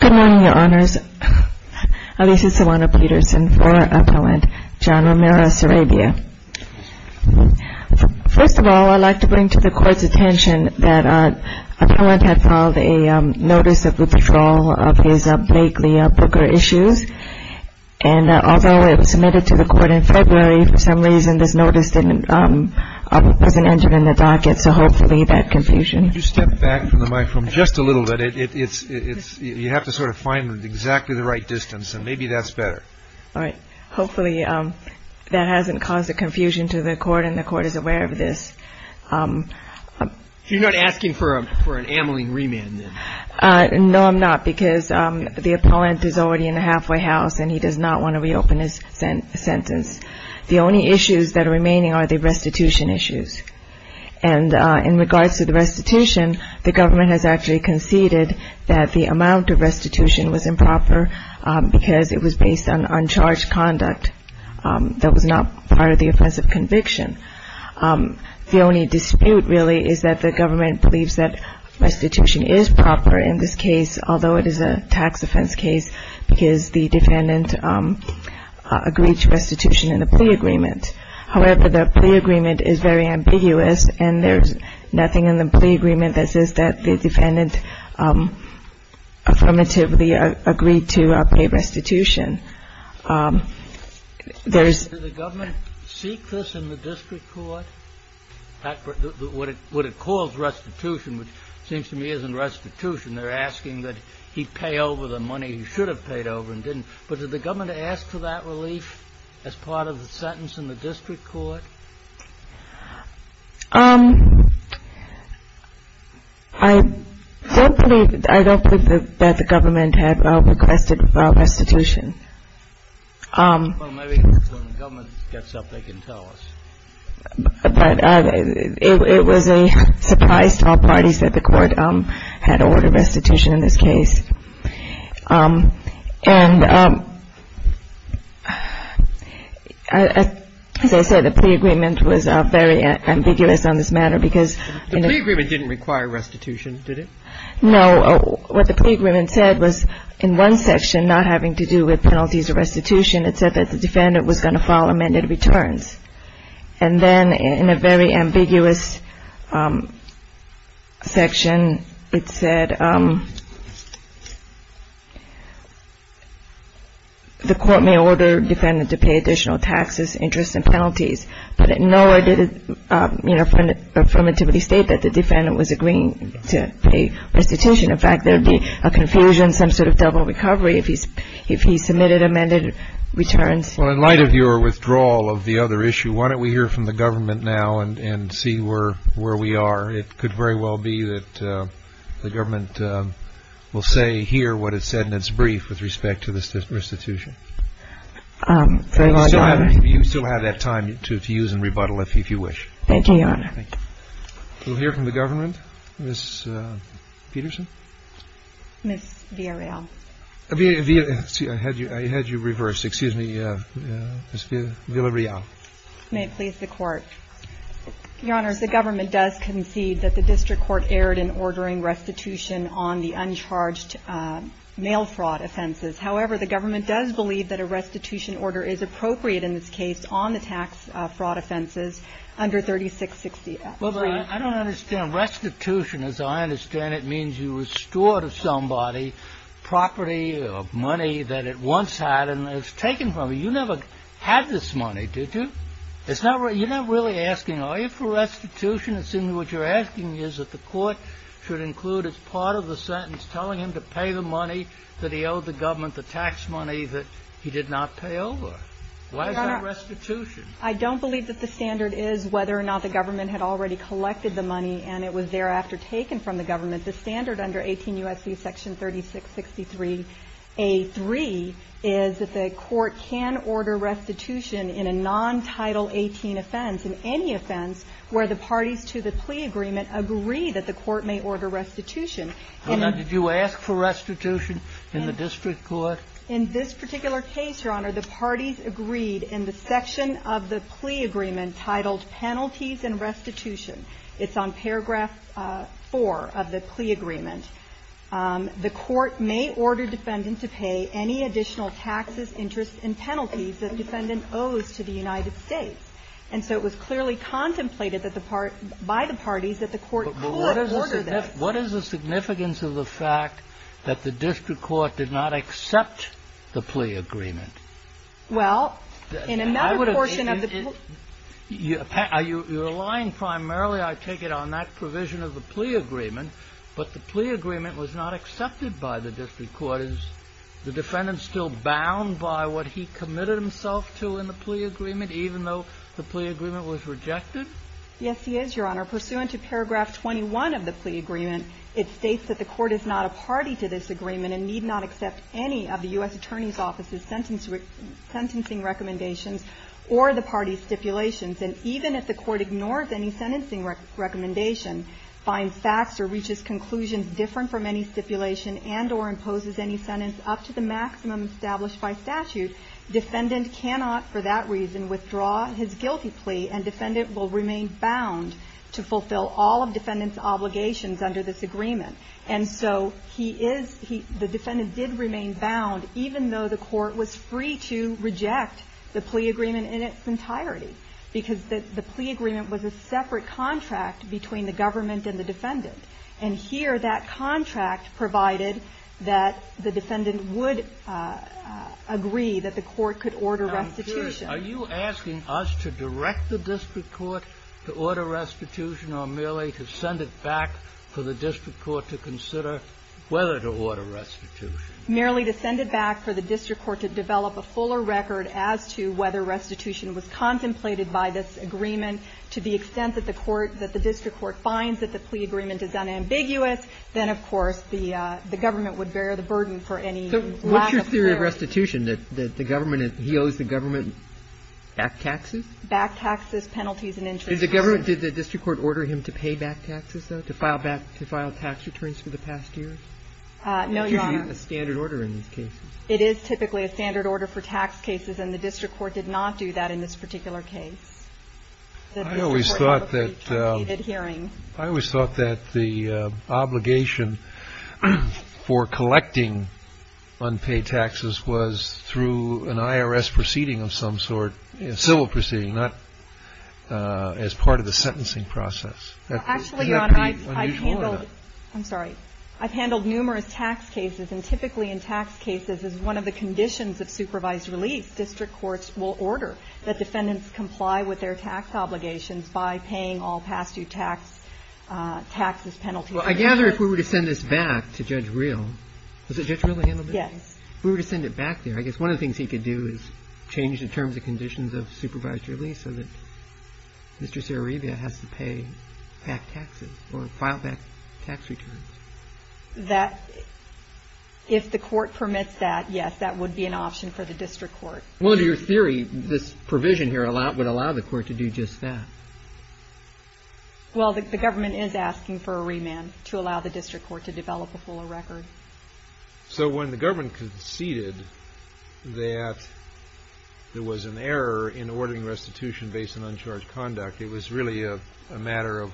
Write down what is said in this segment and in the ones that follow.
Good morning, your honors. This is Silvana Petersen for Appellant John Romero Sarabia. First of all, I'd like to bring to the Court's attention that Appellant had filed a notice of withdrawal of his Blakely Booker issues. And although it was submitted to the Court in February, for some reason this notice wasn't entered in the docket. So hopefully that confusion you step back from the microphone just a little bit. It's you have to sort of find exactly the right distance and maybe that's better. All right. Hopefully that hasn't caused a confusion to the court and the court is aware of this. You're not asking for a for an amyling remand. No, I'm not. Because the appellant is already in the halfway house and he does not want to reopen his sentence. The only issues that are remaining are the restitution issues. And in regards to the restitution, the government has actually conceded that the amount of restitution was improper because it was based on uncharged conduct that was not part of the offense of conviction. The only dispute really is that the government believes that restitution is proper in this case, although it is a tax offense case because the defendant agreed to restitution in the plea agreement. However, the plea agreement is very ambiguous and there's nothing in the plea agreement that says that the defendant affirmatively agreed to pay restitution. There's the government. Seek this in the district court. What it calls restitution, which seems to me isn't restitution. They're asking that he pay over the money he should have paid over and didn't. But did the government ask for that relief as part of the sentence in the district court? I don't think that the government had requested restitution. Well, maybe when the government gets up, they can tell us. But it was a surprise to all parties that the Court had ordered restitution in this case. And as I said, the plea agreement was very ambiguous on this matter because the plea agreement didn't require restitution, did it? No. What the plea agreement said was in one section, not having to do with penalties or restitution, it said that the defendant was going to file amended returns. And then in a very ambiguous section, it said the Court may order the defendant to pay additional taxes, interest, and penalties. But nowhere did it affirmatively state that the defendant was agreeing to pay restitution. In fact, there would be a confusion, some sort of double recovery if he submitted amended returns. Well, in light of your withdrawal of the other issue, why don't we hear from the government now and see where we are. It could very well be that the government will say here what it said in its brief with respect to this restitution. I don't know. You still have that time to use and rebuttal if you wish. Thank you, Your Honor. Thank you. We'll hear from the government. Ms. Peterson. Ms. Villarreal. I had you reversed. Excuse me. Ms. Villarreal. May it please the Court. Your Honor, the government does concede that the district court erred in ordering restitution on the uncharged mail fraud offenses. However, the government does believe that a restitution order is appropriate in this case on the tax fraud offenses under 3660. I don't understand. Restitution, as I understand it, means you restore to somebody property or money that it once had and has taken from you. You never had this money, did you? You're not really asking, are you for restitution? It seems what you're asking is that the Court should include as part of the sentence telling him to pay the money that he owed the government, the tax money that he did not pay over. Why is that restitution? Your Honor, I don't believe that the standard is whether or not the government had already collected the money and it was thereafter taken from the government. The standard under 18 U.S.C. section 3663a3 is that the Court can order restitution in a non-Title 18 offense, in any offense where the parties to the plea agreement agree that the Court may order restitution. Your Honor, did you ask for restitution in the district court? In this particular case, Your Honor, the parties agreed in the section of the plea agreement titled Penalties and Restitution. It's on paragraph 4 of the plea agreement. The court may order defendant to pay any additional taxes, interests, and penalties that defendant owes to the United States. And so it was clearly contemplated that the part by the parties that the court could order this. But what is the significance of the fact that the district court did not accept the plea agreement? Well, in another portion of the plea agreement. Are you relying primarily, I take it, on that provision of the plea agreement, but the plea agreement was not accepted by the district court? Is the defendant still bound by what he committed himself to in the plea agreement, even though the plea agreement was rejected? Yes, he is, Your Honor. Pursuant to paragraph 21 of the plea agreement, it states that the court is not a party to this agreement and need not accept any of the U.S. Attorney's Office's sentencing recommendations or the parties' stipulations. And even if the court ignores any sentencing recommendation, finds facts or reaches conclusions different from any stipulation and or imposes any sentence up to the maximum established by statute, defendant cannot for that reason withdraw his guilty plea, and defendant will remain bound to fulfill all of defendant's obligations under this agreement. And so he is he the defendant did remain bound, even though the court was free to reject the plea agreement in its entirety, because the plea agreement was a separate contract between the government and the defendant. And here, that contract provided that the defendant would agree that the court could order restitution. Are you asking us to direct the district court to order restitution, or merely to send it back for the district court to consider whether to order restitution? Merely to send it back for the district court to develop a fuller record as to whether restitution was contemplated by this agreement, to the extent that the court, that the district court finds that the plea agreement is unambiguous, then, of course, the government would bear the burden for any lack of clarity. So what's your theory of restitution, that the government, he owes the government back taxes? Back taxes, penalties and interest. Did the government, did the district court order him to pay back taxes, though, No, Your Honor. It's usually a standard order in these cases. It is typically a standard order for tax cases, and the district court did not do that in this particular case. I always thought that the obligation for collecting unpaid taxes was through an IRS proceeding of some sort, a civil proceeding, not as part of the sentencing process. Actually, Your Honor, I've handled, I'm sorry. I've handled numerous tax cases, and typically in tax cases, as one of the conditions of supervised release, district courts will order that defendants comply with their tax obligations by paying all past-due tax, taxes, penalties. Well, I gather if we were to send this back to Judge Reel, was it Judge Reel that handled it? Yes. If we were to send it back there, I guess one of the things he could do is change the terms and conditions of supervised release so that Mr. Saro-Revia has to pay back taxes or file back tax returns. That, if the court permits that, yes, that would be an option for the district court. Well, under your theory, this provision here would allow the court to do just that. Well, the government is asking for a remand to allow the district court to develop a fuller record. So when the government conceded that there was an error in ordering restitution based on uncharged conduct, it was really a matter of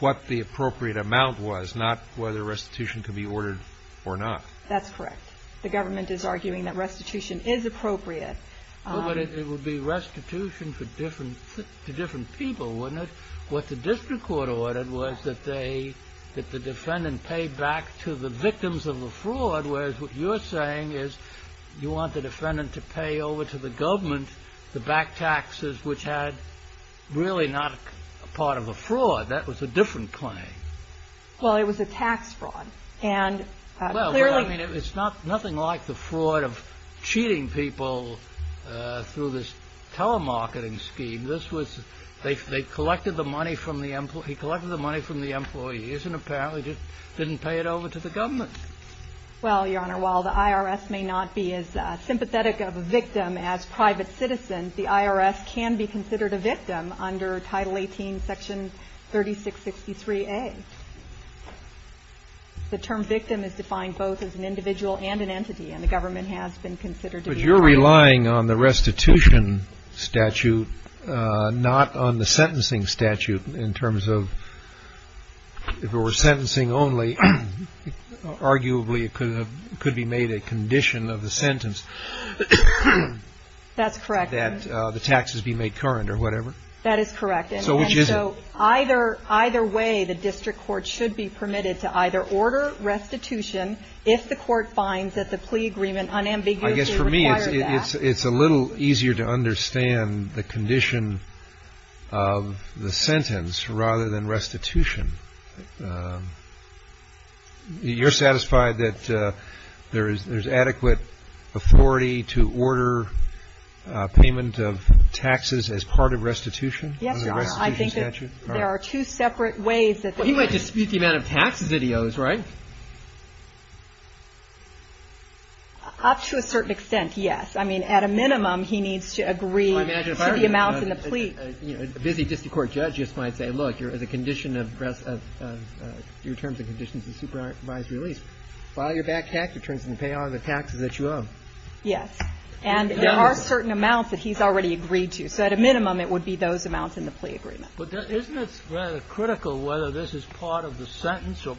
what the appropriate amount was, not whether restitution could be ordered or not. That's correct. The government is arguing that restitution is appropriate. Well, but it would be restitution to different people, wouldn't it? What the district court ordered was that they, that the defendant pay back to the victims of the fraud, whereas what you're saying is you want the defendant to pay over to the government to back taxes which had really not a part of a fraud. That was a different claim. Well, it was a tax fraud. And clearly — Well, I mean, it's not — nothing like the fraud of cheating people through this telemarketing scheme. This was — they collected the money from the — he collected the money from the employees and apparently didn't pay it over to the government. Well, Your Honor, while the IRS may not be as sympathetic of a victim as private citizens, the IRS can be considered a victim under Title 18, Section 3663A. The term victim is defined both as an individual and an entity, and the government has been considered to be a victim. But you're relying on the restitution statute, not on the sentencing statute, in terms of if it were sentencing only, arguably it could have — it could be made a condition of the sentence. That's correct. That the taxes be made current or whatever. That is correct. So which isn't? So either way, the district court should be permitted to either order restitution if the court finds that the plea agreement unambiguously requires that. I guess for me it's a little easier to understand the condition of the sentence rather than restitution. You're satisfied that there's adequate authority to order payment of taxes as part of Yes, Your Honor. On the restitution statute? I think that there are two separate ways that — Well, he might dispute the amount of taxes that he owes, right? Up to a certain extent, yes. I mean, at a minimum, he needs to agree to the amount in the plea. A busy district court judge just might say, look, there's a condition of your terms and conditions of supervised release. File your back tax returns and pay all the taxes that you owe. Yes. And there are certain amounts that he's already agreed to. So at a minimum, it would be those amounts in the plea agreement. But isn't it rather critical whether this is part of the sentence or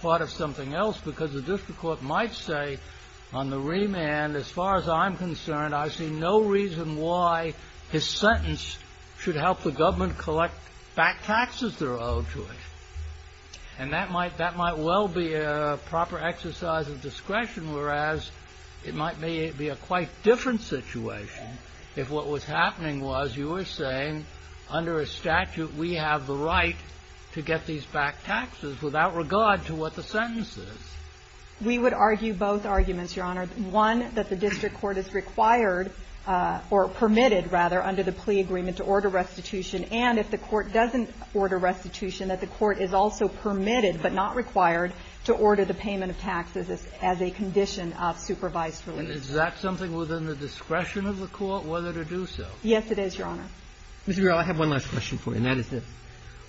part of something else? Because the district court might say on the remand, as far as I'm concerned, I see no reason why his sentence should help the government collect back taxes they're owed to it. And that might well be a proper exercise of discretion, whereas it might be a quite different situation if what was happening was you were saying under a statute we have the right to get these back taxes without regard to what the sentence We would argue both arguments, Your Honor. One, that the district court is required or permitted, rather, under the plea agreement to order restitution, and if the court doesn't order restitution, that the court is also permitted but not required to order the payment of taxes as a condition of supervised release. Is that something within the discretion of the court, whether to do so? Yes, it is, Your Honor. Mr. Garrell, I have one last question for you, and that is this.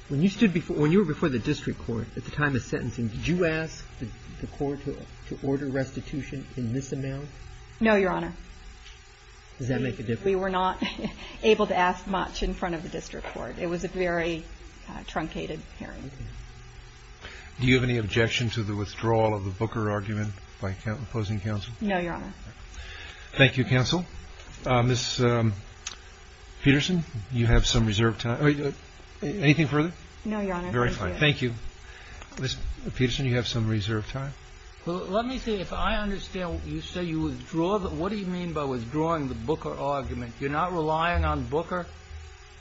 When you stood before the district court at the time of sentencing, did you ask the district court for the amount? No, Your Honor. Does that make a difference? We were not able to ask much in front of the district court. It was a very truncated hearing. Do you have any objection to the withdrawal of the Booker argument by opposing counsel? No, Your Honor. Thank you, counsel. Ms. Peterson, you have some reserved time. Anything further? No, Your Honor. Very fine. Thank you. Ms. Peterson, you have some reserved time. Let me see. If I understand, you say you withdraw the – what do you mean by withdrawing the Booker argument? You're not relying on Booker?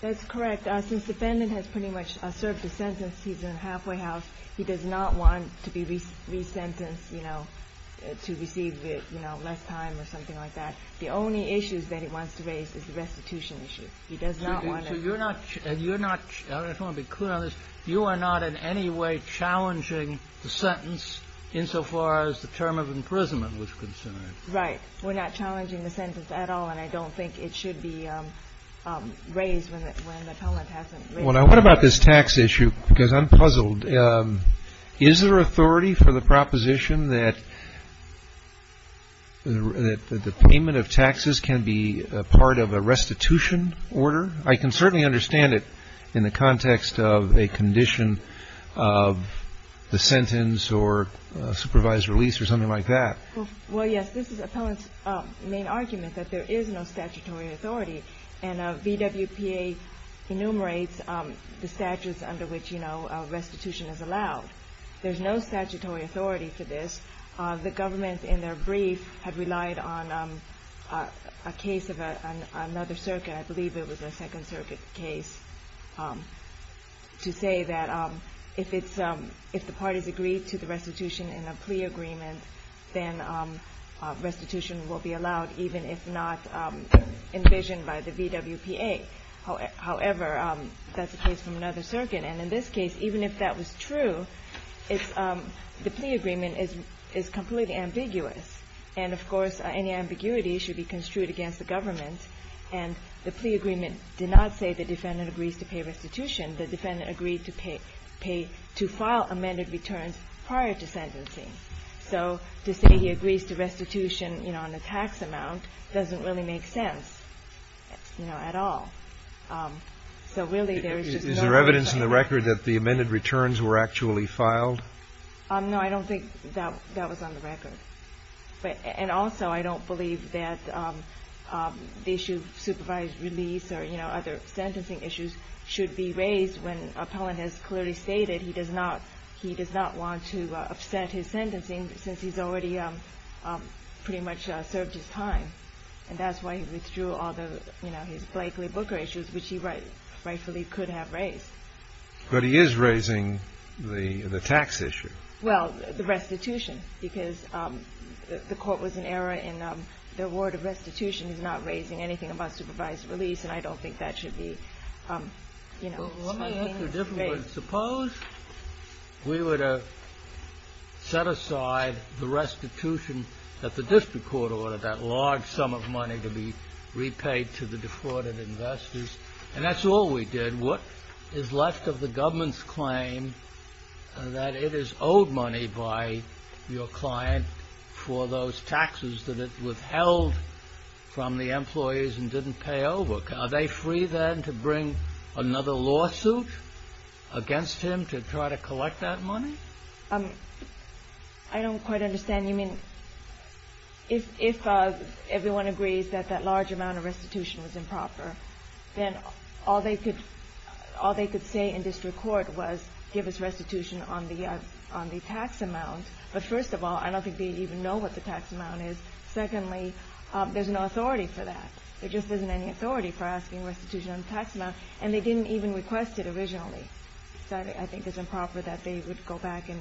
That's correct. Since the defendant has pretty much served his sentence, he's in a halfway house. He does not want to be resentenced, you know, to receive, you know, less time or something like that. The only issues that he wants to raise is the restitution issue. He does not want to – So you're not – I just want to be clear on this. You are not in any way challenging the sentence insofar as the term of imprisonment was concerned. Right. We're not challenging the sentence at all, and I don't think it should be raised when the comment hasn't raised. Well, now, what about this tax issue? Because I'm puzzled. Is there authority for the proposition that the payment of taxes can be part of a restitution order? I can certainly understand it in the context of a condition of the sentence or supervised release or something like that. Well, yes, this is Appellant's main argument, that there is no statutory authority. And VWPA enumerates the statutes under which, you know, restitution is allowed. There's no statutory authority for this. The government, in their brief, had relied on a case of another circuit. I believe it was a Second Circuit case to say that if it's – if the parties agree to the restitution in a plea agreement, then restitution will be allowed, even if not envisioned by the VWPA. However, that's a case from another circuit. And in this case, even if that was true, it's – the plea agreement is completely ambiguous. And, of course, any ambiguity should be construed against the government. And the plea agreement did not say the defendant agrees to pay restitution. The defendant agreed to pay – to file amended returns prior to sentencing. So to say he agrees to restitution, you know, on a tax amount doesn't really make sense, you know, at all. So really, there is just no way of saying it. Is there evidence in the record that the amended returns were actually filed? No, I don't think that was on the record. But – and also, I don't believe that the issue of supervised release or, you know, other sentencing issues should be raised when Appellant has clearly stated he does not – he does not want to upset his sentencing since he's already pretty much served his time. And that's why he withdrew all the, you know, his Blakeley-Booker issues, which he rightfully could have raised. But he is raising the tax issue. Well, the restitution, because the court was in error in the word of restitution is not raising anything about supervised release, and I don't think that should be, you know, raised. Suppose we were to set aside the restitution that the district court ordered, that large sum of money to be repaid to the defrauded investors, and that's all we did. And what is left of the government's claim that it is owed money by your client for those taxes that it withheld from the employees and didn't pay over? Are they free, then, to bring another lawsuit against him to try to collect that money? I don't quite understand. You mean if everyone agrees that that large amount of restitution was improper, then all they could say in district court was give us restitution on the tax amount. But first of all, I don't think they even know what the tax amount is. Secondly, there's no authority for that. There just isn't any authority for asking restitution on the tax amount. And they didn't even request it originally. So I think it's improper that they would go back and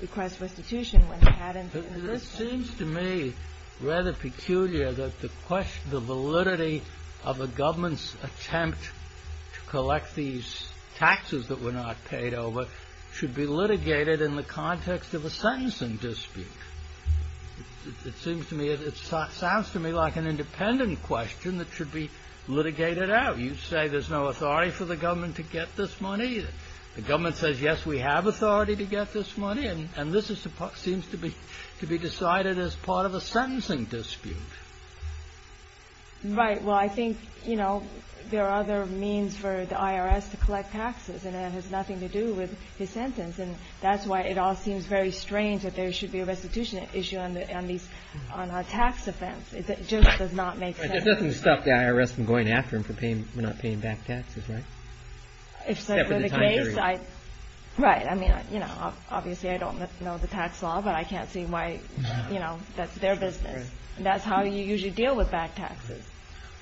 request restitution when they hadn't. It seems to me rather peculiar that the validity of a government's attempt to collect these taxes that were not paid over should be litigated in the context of a sentencing dispute. It sounds to me like an independent question that should be litigated out. You say there's no authority for the government to get this money. The government says, yes, we have authority to get this money. And this seems to be decided as part of a sentencing dispute. Right. Well, I think there are other means for the IRS to collect taxes. And it has nothing to do with his sentence. And that's why it all seems very strange that there should be a restitution issue on a tax offense. It just does not make sense. It doesn't stop the IRS from going after him for not paying back taxes, right? Except for the case. Right. I mean, you know, obviously I don't know the tax law, but I can't see why, you know, that's their business. That's how you usually deal with back taxes.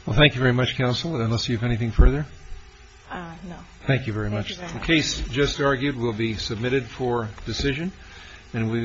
Well, thank you very much, counsel. Unless you have anything further? No. Thank you very much. Thank you very much. The case just argued will be submitted for decision.